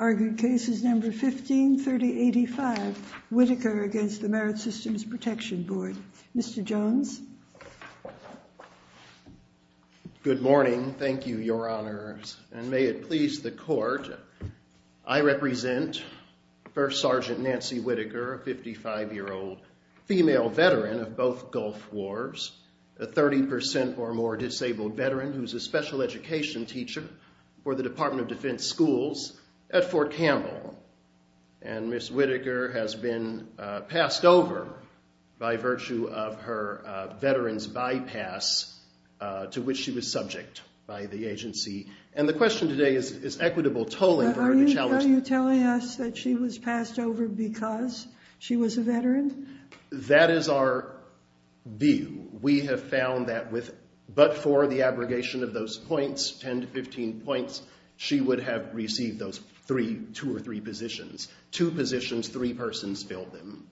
1530.85 Whitaker v. Merit Systems Protection Board Mr. Jones? Good morning. Thank you, Your Honors. And may it please the court, I represent First Sergeant Nancy Whitaker, a 55-year-old female veteran of both Gulf Wars, a 30% or more disabled veteran who's a special education teacher for the Department of Defense Schools at Fort Campbell. And Ms. Whitaker has been passed over by virtue of her veteran's bypass, to which she was subject by the agency. And the question today is equitable tolling for her to challenge. Are you telling us that she was passed over because she was a veteran? That is our view. We have found that with but for the abrogation of those points, 10 to 15 points, she would have received those three, two or three positions. Two positions, three persons filled them.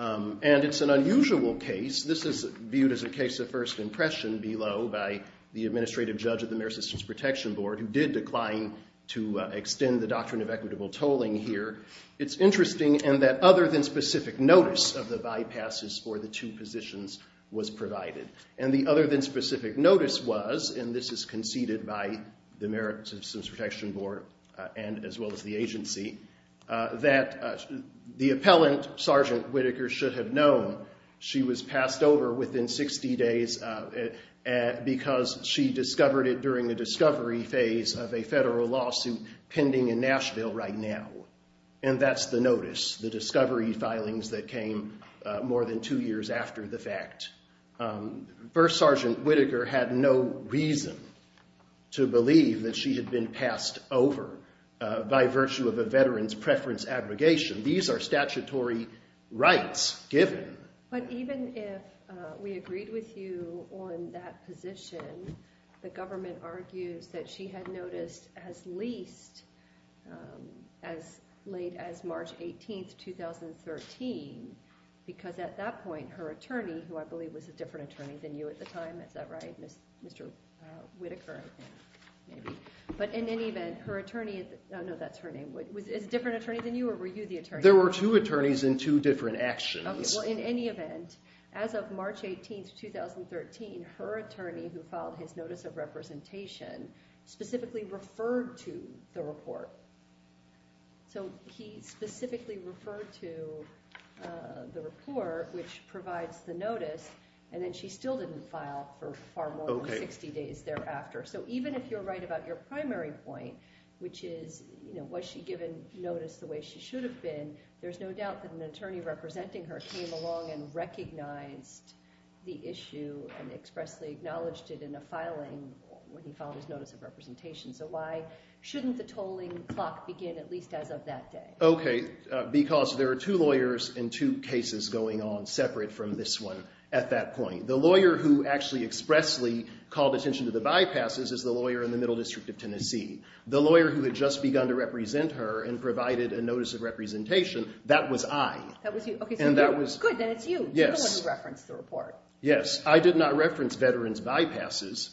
And it's an unusual case. This is viewed as a case of first impression below by the administrative judge of the Merit Systems Protection Board, who did decline to extend the doctrine of equitable tolling here. It's interesting in that other than specific notice of the bypasses for the two positions was provided. And the other than specific notice was, and this is conceded by the Merit Systems Protection Board and as well as the agency, that the appellant, Sergeant Whitaker, should have known she was passed over within 60 days because she discovered it during the discovery phase of a federal lawsuit pending in Nashville right now. And that's the notice, the discovery filings that came more than two years after the fact. First Sergeant Whitaker had no reason to believe that she had been passed over by virtue of a veteran's preference abrogation. These are statutory rights given. But even if we agreed with you on that position, the government argues that she had noticed as late as March 18, 2013, because at that point, her attorney, who I believe was a different attorney than you at the time, is that right? Mr. Whitaker, I think, maybe. But in any event, her attorney, no, that's her name, was a different attorney than you, or were you the attorney? There were two attorneys in two different actions. Well, in any event, as of March 18, 2013, her attorney, who filed his notice of representation, specifically referred to the report. So he specifically referred to the report, which provides the notice, and then she still didn't file for far more than 60 days thereafter. So even if you're right about your primary point, which is, was she given notice the way she should have been, there's no doubt that an attorney representing her came along and recognized the issue and expressly acknowledged it in a filing when he filed his notice of representation. So why shouldn't the tolling clock begin at least as of that day? OK, because there are two lawyers in two cases going on separate from this one at that point. The lawyer who actually expressly called attention to the bypasses is the lawyer in the Middle District of Tennessee. The lawyer who had just begun to represent her and provided a notice of representation, that was I. That was you. And that was. Good, then it's you. You're the one who referenced the report. Yes, I did not reference Veterans Bypasses,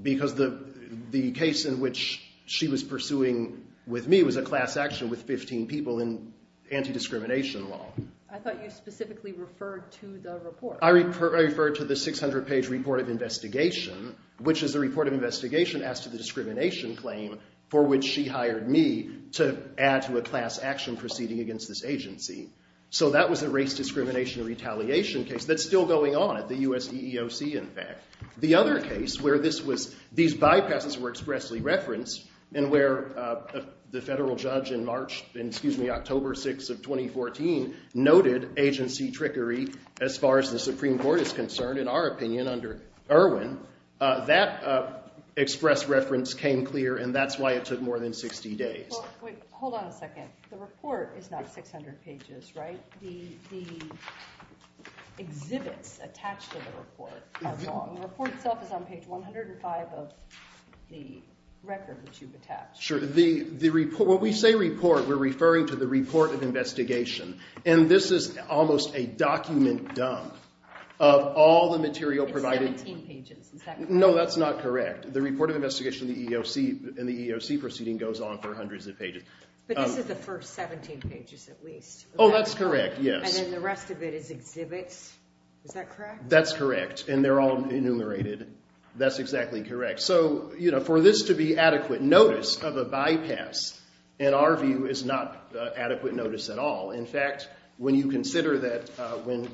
because the case in which she was pursuing with me was a class action with 15 people in anti-discrimination law. I thought you specifically referred to the report. I referred to the 600-page report of investigation, which is a report of investigation as to the discrimination claim for which she hired me to add to a class action proceeding against this agency. So that was a race discrimination retaliation case that's still going on at the US EEOC, in fact. The other case where these bypasses were expressly referenced and where the federal judge in October 6 of 2014 noted agency trickery as far as the Supreme Court is concerned, in our opinion, under Irwin, that express reference came clear. And that's why it took more than 60 days. Hold on a second. The report is not 600 pages, right? The exhibits attached to the report are long. The report itself is on page 105 of the record which you've attached. Sure. When we say report, we're referring to the report of investigation. And this is almost a document dump of all the material provided. It's 17 pages, is that correct? No, that's not correct. The report of investigation in the EEOC proceeding goes on for hundreds of pages. But this is the first 17 pages, at least. Oh, that's correct, yes. And then the rest of it is exhibits, is that correct? That's correct. And they're all enumerated. That's exactly correct. So for this to be adequate notice of a bypass, in our view, is not adequate notice at all. In fact, when you consider that when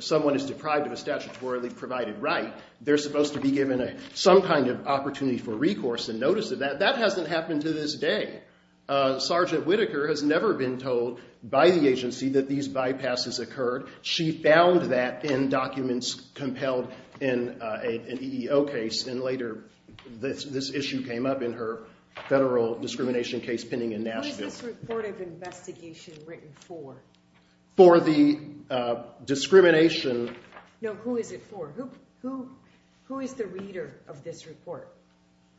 someone is deprived of a statutorily provided right, they're supposed to be given some kind of opportunity for recourse and notice of that. That hasn't happened to this day. Sergeant Whitaker has never been told by the agency that these bypasses occurred. She found that in documents compelled in an EEO case. And later, this issue came up in her federal discrimination case pending in Nashville. What is this report of investigation written for? For the discrimination. No, who is it for? Who is the reader of this report?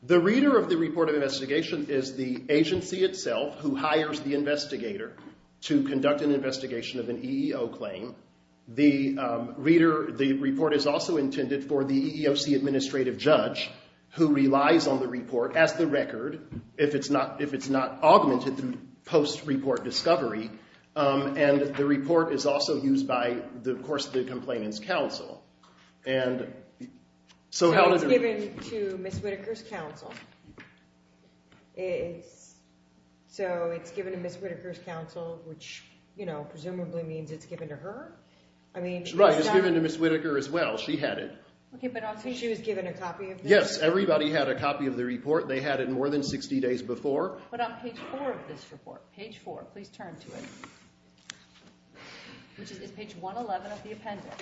The reader of the report of investigation is the agency itself, who hires the investigator to conduct an investigation of an EEO claim. The reader, the report is also intended for the EEOC administrative judge, who has not augmented the post-report discovery. And the report is also used by, of course, the complainant's counsel. And so how does it work? So it's given to Ms. Whitaker's counsel. So it's given to Ms. Whitaker's counsel, which presumably means it's given to her? I mean, it's done. Right, it's given to Ms. Whitaker as well. She had it. OK, but also she was given a copy of this? Yes, everybody had a copy of the report. They had it more than 60 days before. But on page 4 of this report, page 4, please turn to it, which is page 111 of the appendix,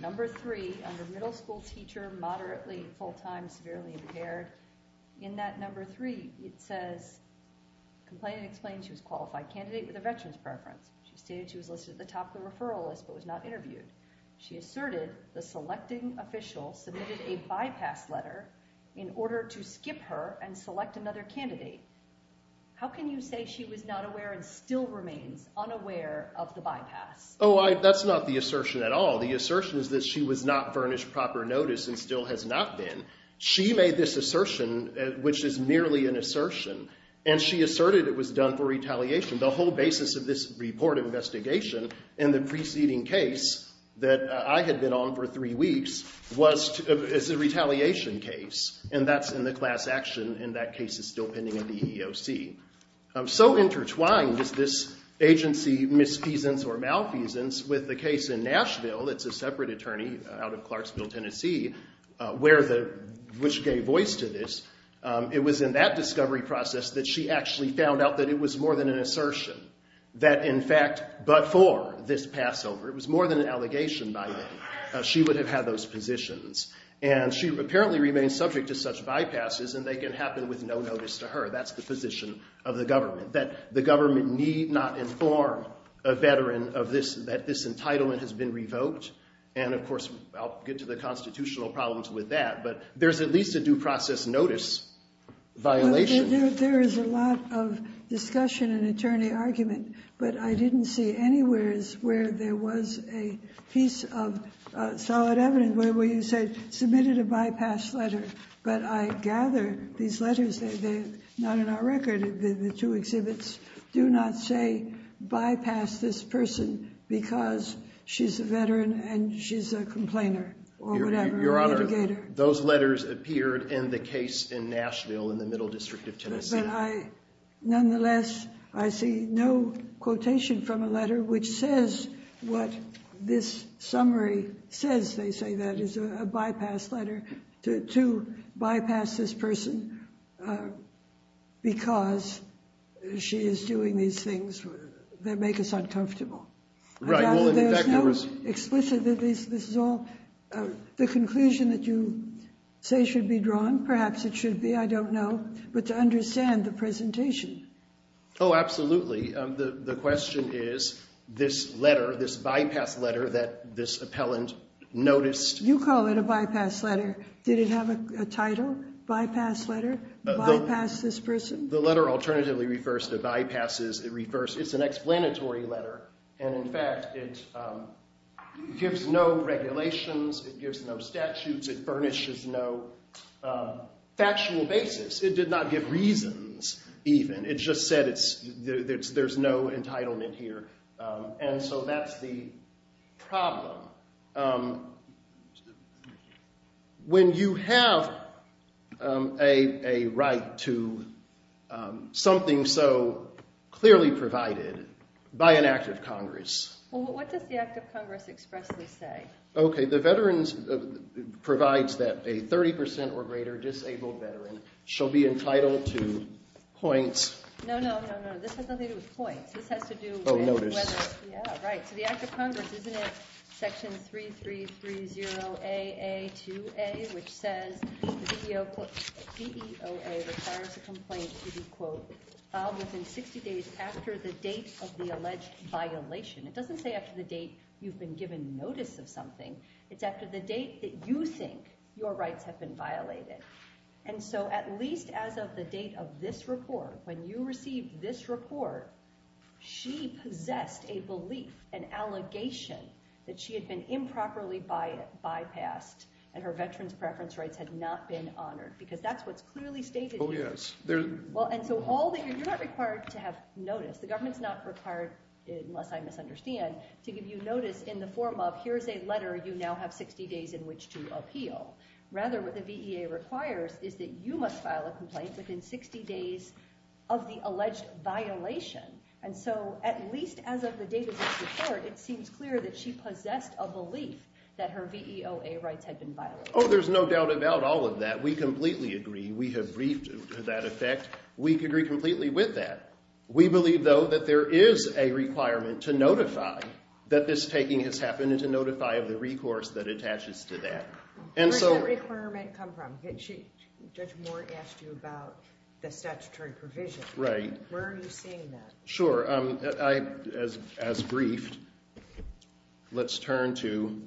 number 3, under middle school teacher, moderately full-time, severely impaired, in that number 3, it says, complainant explained she was a qualified candidate with a veteran's preference. She stated she was listed at the top of the referral list, but was not interviewed. She asserted the selecting official submitted a bypass letter in order to skip her and select another candidate. How can you say she was not aware and still remains unaware of the bypass? Oh, that's not the assertion at all. The assertion is that she was not furnished proper notice and still has not been. She made this assertion, which is merely an assertion. And she asserted it was done for retaliation. The whole basis of this report investigation and the preceding case that I had been on for three weeks was a retaliation case. And that's in the class action. And that case is still pending at the EEOC. So intertwined is this agency misfeasance or malfeasance with the case in Nashville. It's a separate attorney out of Clarksville, Tennessee, where the, which gave voice to this. It was in that discovery process that she actually found out that it was more than an assertion, that in fact, before this Passover, it was more than an allegation by name. She would have had those positions. And she apparently remains subject to such bypasses. And they can happen with no notice to her. That's the position of the government, that the government need not inform a veteran of this, that this entitlement has been revoked. And of course, I'll get to the constitutional problems with that. But there's at least a due process notice violation. There is a lot of discussion and attorney argument. But I didn't see anywheres where there was a piece of solid evidence where you said, submitted a bypass letter. But I gather these letters, they're not in our record. The two exhibits do not say bypass this person because she's a veteran and she's a complainer or whatever. Your Honor, those letters appeared in the case in Nashville in the Middle District of Tennessee. Nonetheless, I see no quotation from a letter which says what this summary says, they say that is a bypass letter to bypass this person because she is doing these things that make us uncomfortable. Right, well, in fact, there was. Explicitly, this is all the conclusion that you say should be drawn. Perhaps it should be, I don't know. But to understand the presentation. Oh, absolutely. The question is, this letter, this bypass letter that this appellant noticed. You call it a bypass letter. Did it have a title, bypass letter, bypass this person? The letter alternatively refers to bypasses. It's an explanatory letter. And in fact, it gives no regulations. It gives no statutes. It furnishes no factual basis. It did not give reasons even. It just said there's no entitlement here. And so that's the problem. Now, when you have a right to something so clearly provided by an act of Congress. Well, what does the act of Congress expressly say? OK, the veterans provides that a 30% or greater disabled veteran shall be entitled to points. No, no, no, no, this has nothing to do with points. This has to do with whether. Oh, notice. Yeah, right. So the act of Congress, isn't it section 3330AA2A, which says the VEOA requires a complaint to be, quote, filed within 60 days after the date of the alleged violation. It doesn't say after the date you've been given notice of something. It's after the date that you think your rights have been violated. And so at least as of the date of this report, when you received this report, she possessed a belief and allegation that she had been improperly bypassed and her veterans' preference rights had not been honored. Because that's what's clearly stated here. Oh, yes. Well, and so you're not required to have notice. The government's not required, unless I misunderstand, to give you notice in the form of here's a letter you now have 60 days in which to appeal. Rather, what the VEOA requires is that you must file a complaint within 60 days of the alleged violation. And so at least as of the date of this report, it seems clear that she possessed a belief that her VEOA rights had been violated. Oh, there's no doubt about all of that. We completely agree. We have briefed to that effect. We agree completely with that. We believe, though, that there is a requirement to notify that this taking has happened and to notify of the recourse that attaches to that. Where does that requirement come from? Judge Moore asked you about the statutory provision. Right. Where are you seeing that? Sure. As briefed, let's turn to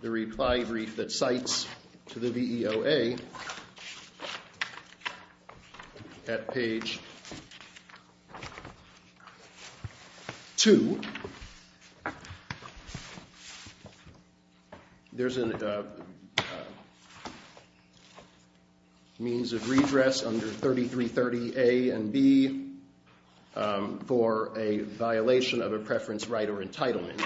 the reply brief that cites to the VEOA at page 2. There's a means of redress under 3330A and B for a violation of a preference right or entitlement.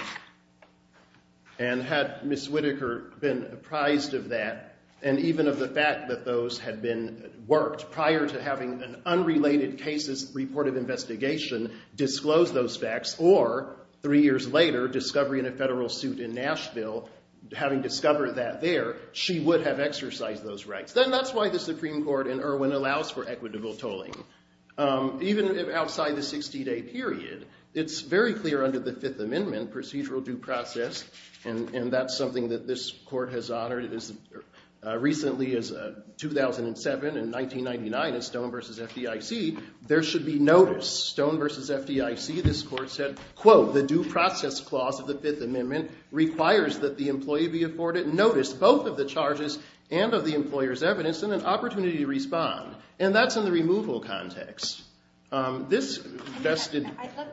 And had Ms. Whitaker been apprised of that, and even of the fact that those had been worked prior to having an unrelated cases report of investigation, disclosed those facts, or three years later, discovery in a federal suit in Nashville, having discovered that there, she would have exercised those rights. Then that's why the Supreme Court in Irwin allows for equitable tolling. Even outside the 60-day period, it's very clear under the Fifth Amendment procedural due process. And that's something that this court has honored recently as 2007. In 1999, at Stone v. FDIC, there should be notice. Stone v. FDIC, this court said, quote, the due process clause of the Fifth Amendment requires that the employee be afforded notice both of the charges and of the employer's evidence and an opportunity to respond. And that's in the removal context. This vested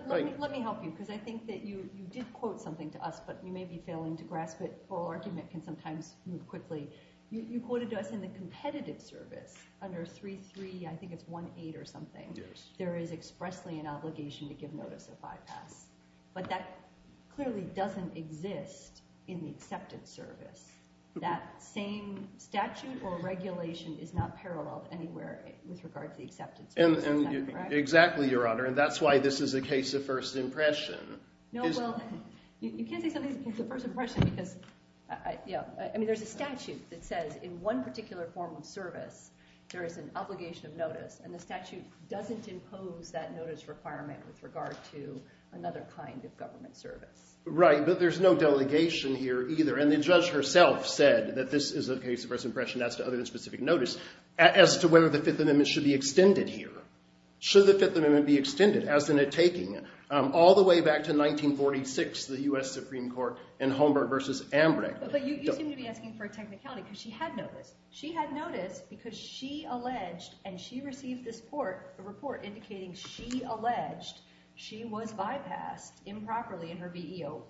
right. Let me help you, because I think that you did quote something to us, but you may be failing to grasp it. Or argument can sometimes move quickly. You quoted to us in the competitive service under 3.3, I think it's 1.8 or something, there is expressly an obligation to give notice of bypass. But that clearly doesn't exist in the acceptance service. That same statute or regulation is not paralleled anywhere with regard to the acceptance service. Exactly, Your Honor. And that's why this is a case of first impression. No, well, you can't say something is a case of first impression, because there's a statute that says, in one particular form of service, there is an obligation of notice. And the statute doesn't impose that notice requirement with regard to another kind of government service. Right, but there's no delegation here either. And the judge herself said that this is a case of first impression as to other than specific notice as to whether the Fifth Amendment should be extended here. Should the Fifth Amendment be extended, as in a taking? All the way back to 1946, the US Supreme Court in Holmberg versus Ambreg. But you seem to be asking for a technicality, because she had notice. She had notice because she alleged, and she received this report indicating she alleged she was bypassed improperly, and her VEOA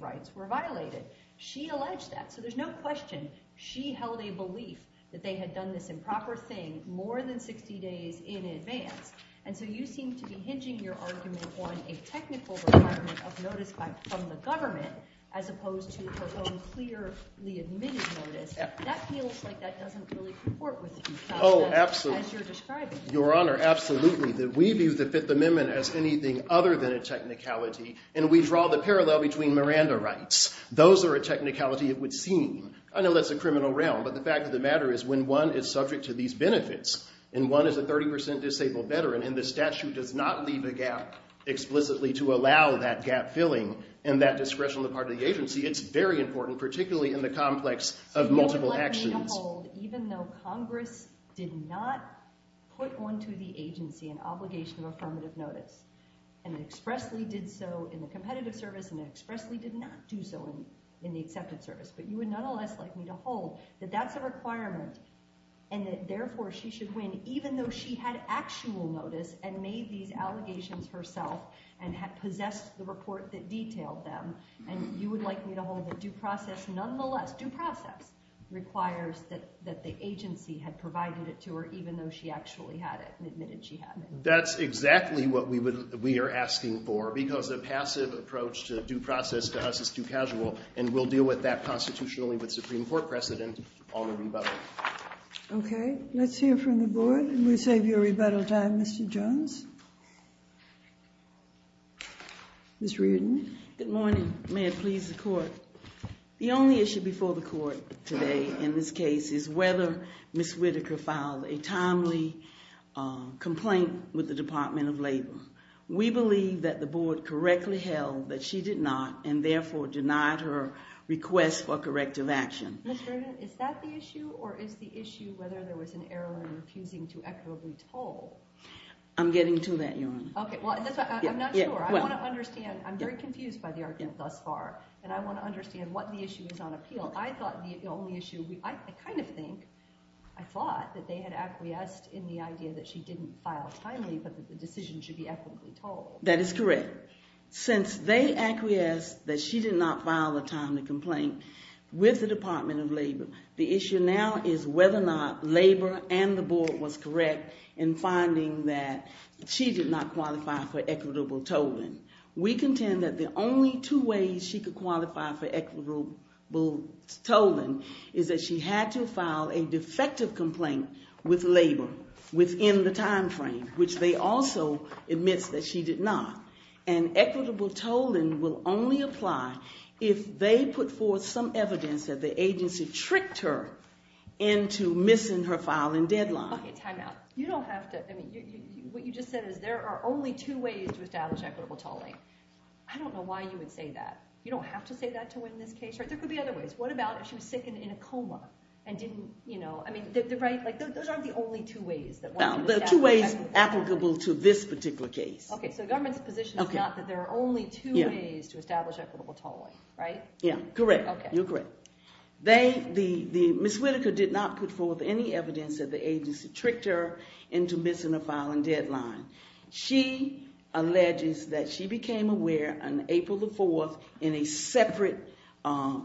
rights were violated. She alleged that. So there's no question she held a belief that they had done this improper thing more than 60 days in advance. And so you seem to be hinging your argument on a technical requirement of notice from the government, as opposed to her own clearly-admitted notice. That feels like that doesn't really comport with you, as you're describing. Your Honor, absolutely. We view the Fifth Amendment as anything other than a technicality. And we draw the parallel between Miranda rights. Those are a technicality, it would seem. I know that's a criminal realm. But the fact of the matter is, when one is subject to these benefits, and one is a 30% disabled veteran, and the statute does not leave a gap explicitly to allow that gap-filling and that discretion on the part of the agency, it's very important, particularly in the complex of multiple actions. So you would like me to hold, even though Congress did not put onto the agency an obligation of affirmative notice, and expressly did so in the competitive service, and expressly did not do so in the accepted service, but you would nonetheless like me to hold that that's a requirement, and that, therefore, she should win, even though she had actual notice and made these allegations herself, and had possessed the report that detailed them. And you would like me to hold that due process, nonetheless, due process, requires that the agency had provided it to her, even though she actually had it, and admitted she had it. That's exactly what we are asking for. Because a passive approach to due process, to us, is too casual. And we'll deal with that constitutionally with Supreme Court precedent on the rebuttal. OK. Let's hear from the board. We'll save you a rebuttal time, Mr. Jones. Ms. Reardon. Good morning. May it please the court. The only issue before the court today, in this case, is whether Ms. Whitaker filed a timely complaint with the Department of Labor. We believe that the board correctly held that she did not, and therefore denied her request for corrective action. Ms. Reardon, is that the issue? Or is the issue whether there was an error in refusing to equitably toll? I'm getting to that, Your Honor. OK, well, that's why I'm not sure. I want to understand. I'm very confused by the argument thus far. And I want to understand what the issue is on appeal. I thought the only issue we, I kind of think, I thought that they had acquiesced in the idea that she didn't file timely, but the decision should be equitably toll. That is correct. Since they acquiesced that she did not file a timely complaint with the Department of Labor, the issue now is whether or not Labor and the board was correct in finding that she did not qualify for equitable tolling. We contend that the only two ways she could qualify for equitable tolling is that she had to file a defective complaint with Labor within the time frame, which they also admits that she did not. And equitable tolling will only apply if they put forth some evidence that the agency tricked her into missing her filing deadline. OK, time out. You don't have to, I mean, what you just said is there are only two ways to establish equitable tolling. I don't know why you would say that. You don't have to say that to win this case, right? There could be other ways. What about if she was sick and in a coma and didn't, you know, I mean, the right, like, those aren't the only two ways that one could establish equitable tolling. No, there are two ways applicable to this particular case. OK, so the government's position is not that there are only two ways to establish equitable tolling, right? Yeah, correct. You're correct. Ms. Whitaker did not put forth any evidence that the agency tricked her into missing her filing deadline. She alleges that she became aware on April the 4th in a separate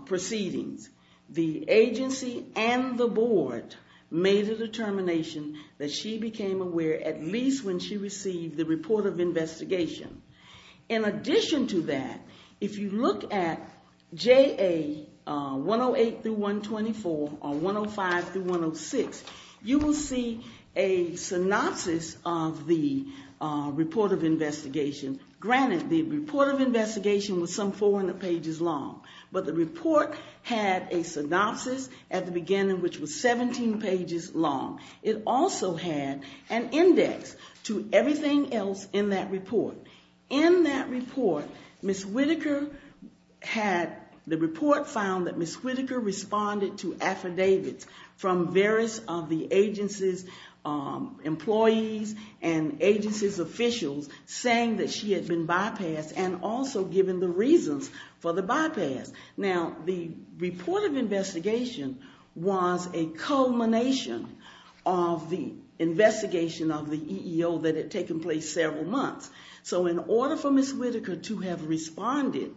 proceedings. The agency and the board made a determination that she became aware at least when she received the report of investigation. In addition to that, if you look at JA 108-124 or 105-106, you will see a synopsis of the report of investigation. Granted, the report of investigation was some 400 pages long, but the report had a synopsis at the beginning, which was 17 pages long. It also had an index to everything else in that report. In that report, the report found that Ms. Whitaker responded to affidavits from various of the agency's employees and agency's officials saying that she had been bypassed and also given the reasons for the bypass. Now, the report of investigation was a culmination of the investigation of the EEO that had taken place several months. So in order for Ms. Whitaker to have responded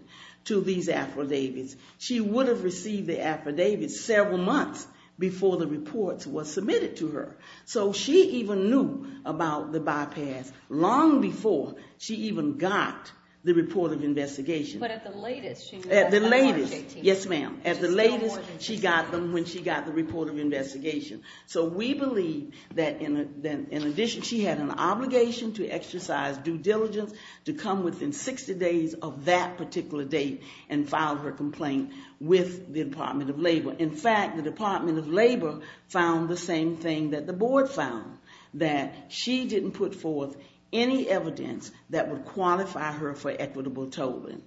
to these affidavits, she would have received the affidavits several months before the report was submitted to her. So she even knew about the bypass long before she even got the report of investigation. But at the latest, she knew about the 118. Yes, ma'am. At the latest, she got them when she got the report of investigation. So we believe that in addition, she had an obligation to exercise due diligence to come within 60 days of that particular date and file her complaint with the Department of Labor. In fact, the Department of Labor found the same thing that the board found, that she didn't put forth any evidence that would qualify her for equitable tolling.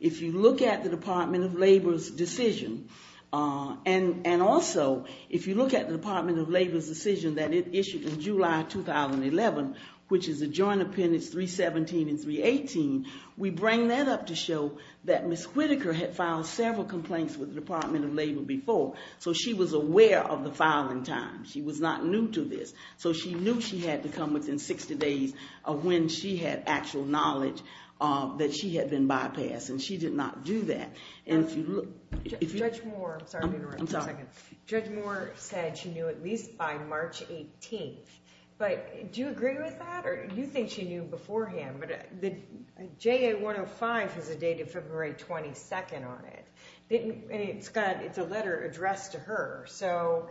If you look at the Department of Labor's decision, and also if you look at the Department of Labor's decision that it issued in July 2011, which is adjoined appendix 317 and 318, we bring that up to show that Ms. Whitaker had filed several complaints with the Department of Labor before. So she was aware of the filing time. She was not new to this. So she knew she had to come within 60 days of when she had actual knowledge that she had been bypassed. And she did not do that. And if you look, if you look. Judge Moore, I'm sorry to interrupt for a second. Judge Moore said she knew at least by March 18th. But do you agree with that? Or do you think she knew beforehand? But the JA 105 has a date of February 22nd on it. And it's a letter addressed to her. So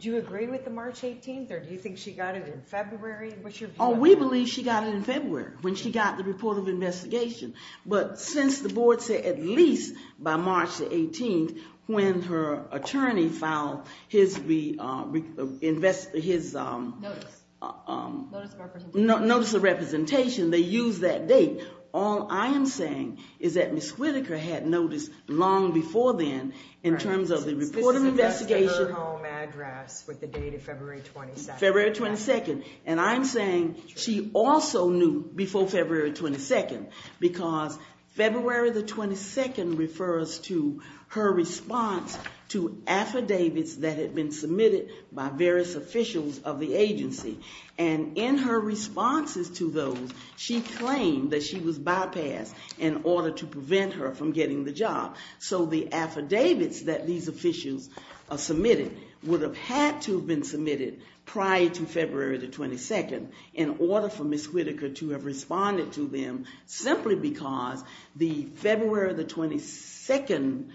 do you agree with the March 18th? Or do you think she got it in February? Oh, we believe she got it in February, when she got the report of investigation. But since the board said at least by March 18th, when her attorney filed his notice of representation, they used that date. All I am saying is that Ms. Whitaker had noticed long before then, in terms of the report of investigation. This is addressed to her home address with the date of February 22nd. February 22nd. And I'm saying she also knew before February 22nd. Because February the 22nd refers to her response to affidavits that had been submitted by various officials of the agency. And in her responses to those, she claimed that she was bypassed in order to prevent her from getting the job. So the affidavits that these officials submitted would have had to have been submitted prior to February the 22nd in order for Ms. Whitaker to have responded to them, simply because the February the 22nd,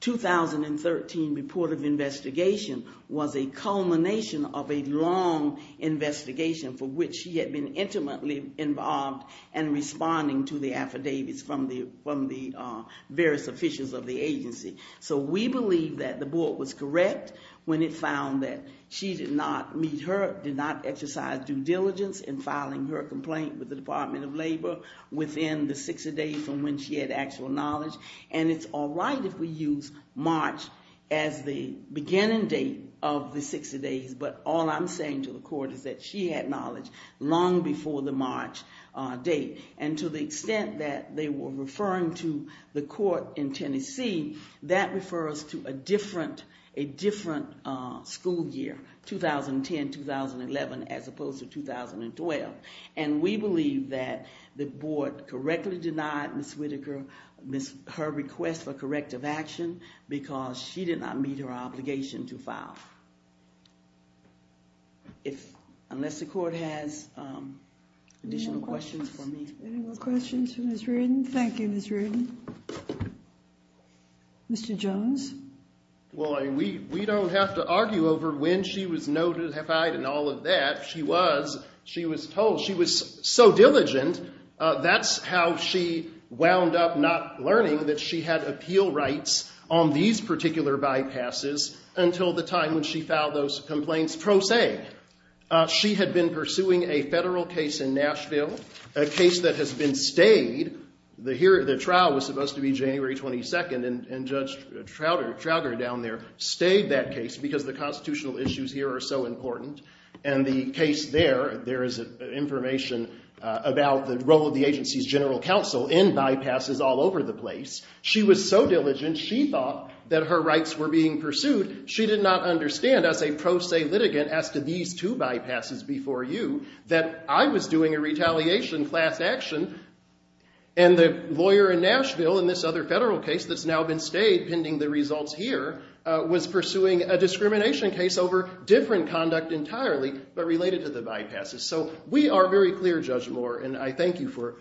2013 report of investigation was a culmination of a long investigation for which she had been intimately involved in responding to the affidavits from the various officials of the agency. So we believe that the board was correct when it found that she did not meet her, did not exercise due diligence in filing her complaint with the Department of Labor within the 60 days from when she had actual knowledge. And it's all right if we use March as the beginning date of the 60 days. But all I'm saying to the court is that she had knowledge long before the March date. And to the extent that they were referring to the court in Tennessee, that refers to a different school year, 2010, 2011, as opposed to 2012. And we believe that the board correctly denied Ms. Whitaker her request for corrective action because she did not meet her obligation to file. If, unless the court has additional questions for me. Any more questions for Ms. Reardon? Thank you, Ms. Reardon. Mr. Jones? Well, we don't have to argue over when she was notified and all of that. She was. She was told. She was so diligent. That's how she wound up not learning that she had appeal rights on these particular bypasses until the time when she filed those complaints pro se. She had been pursuing a federal case in Nashville, a case that has been stayed. The trial was supposed to be January 22nd. And Judge Trowder down there stayed that case because the constitutional issues here are so important. And the case there, there is information about the role of the agency's general counsel in bypasses all over the place. She was so diligent. She thought that her rights were being pursued. She did not understand as a pro se litigant as to these two bypasses before you that I was doing a retaliation class action. And the lawyer in Nashville in this other federal case that's now been stayed, pending the results here, was pursuing a discrimination case over different conduct entirely, but related to the bypasses. So we are very clear, Judge Moore, and I thank you for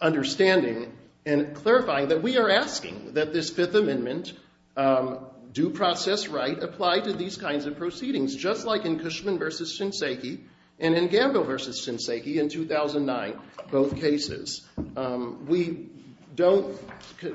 understanding and clarifying that we are asking that this Fifth Amendment do process right apply to these kinds of proceedings, just like in Cushman versus Shinseki and in Gamble versus Shinseki in 2009, both cases. We don't,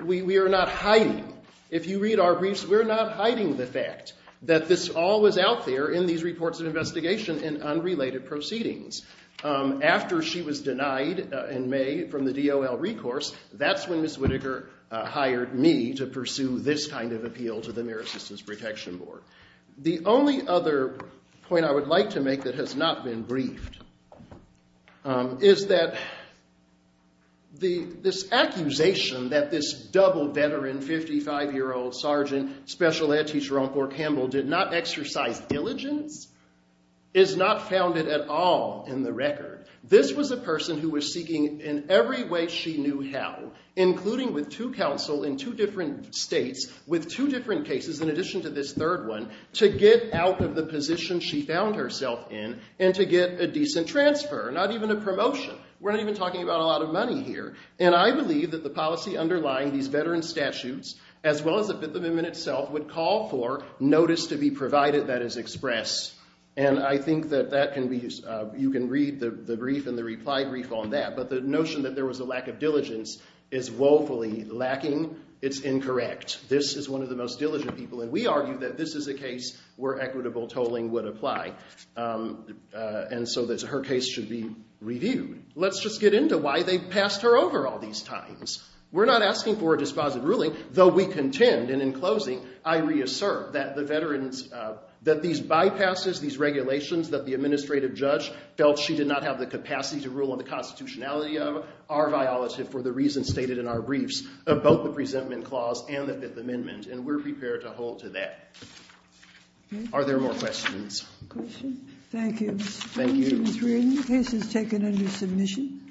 we are not hiding. If you read our briefs, we're not hiding the fact that this all was out there in these reports of investigation and unrelated proceedings. After she was denied in May from the DOL recourse, that's when Ms. Whitaker hired me to pursue this kind of appeal to the AmeriCorps Protection Board. The only other point I would like to make that has not been briefed is that this accusation that this double veteran, 55-year-old sergeant, special ed teacher on Fort Campbell did not exercise diligence is not founded at all in the record. This was a person who was seeking in every way she knew how, including with two counsel in two different states, with two different cases in addition to this third one, to get out of the position she found herself in and to get a decent transfer, not even a promotion. We're not even talking about a lot of money here. And I believe that the policy underlying these veteran statutes, as well as the Fifth Amendment itself, would call for notice to be provided that is expressed. And I think that that can be, you can read the brief and the reply brief on that. But the notion that there was a lack of diligence is woefully lacking. It's incorrect. This is one of the most diligent people. And we argue that this is a case where equitable tolling would apply. And so that her case should be reviewed. Let's just get into why they passed her over all these times. We're not asking for a dispositive ruling, though we contend. And in closing, I reassert that the veterans, that these bypasses, these regulations that the administrative judge felt she did not have the capacity to rule on the constitutionality of are violative for the reasons stated in our briefs about the presentment clause and the Fifth Amendment. And we're prepared to hold to that. Are there more questions? Thank you, Mr. Jones. Thank you. And it's written. The case is taken under submission.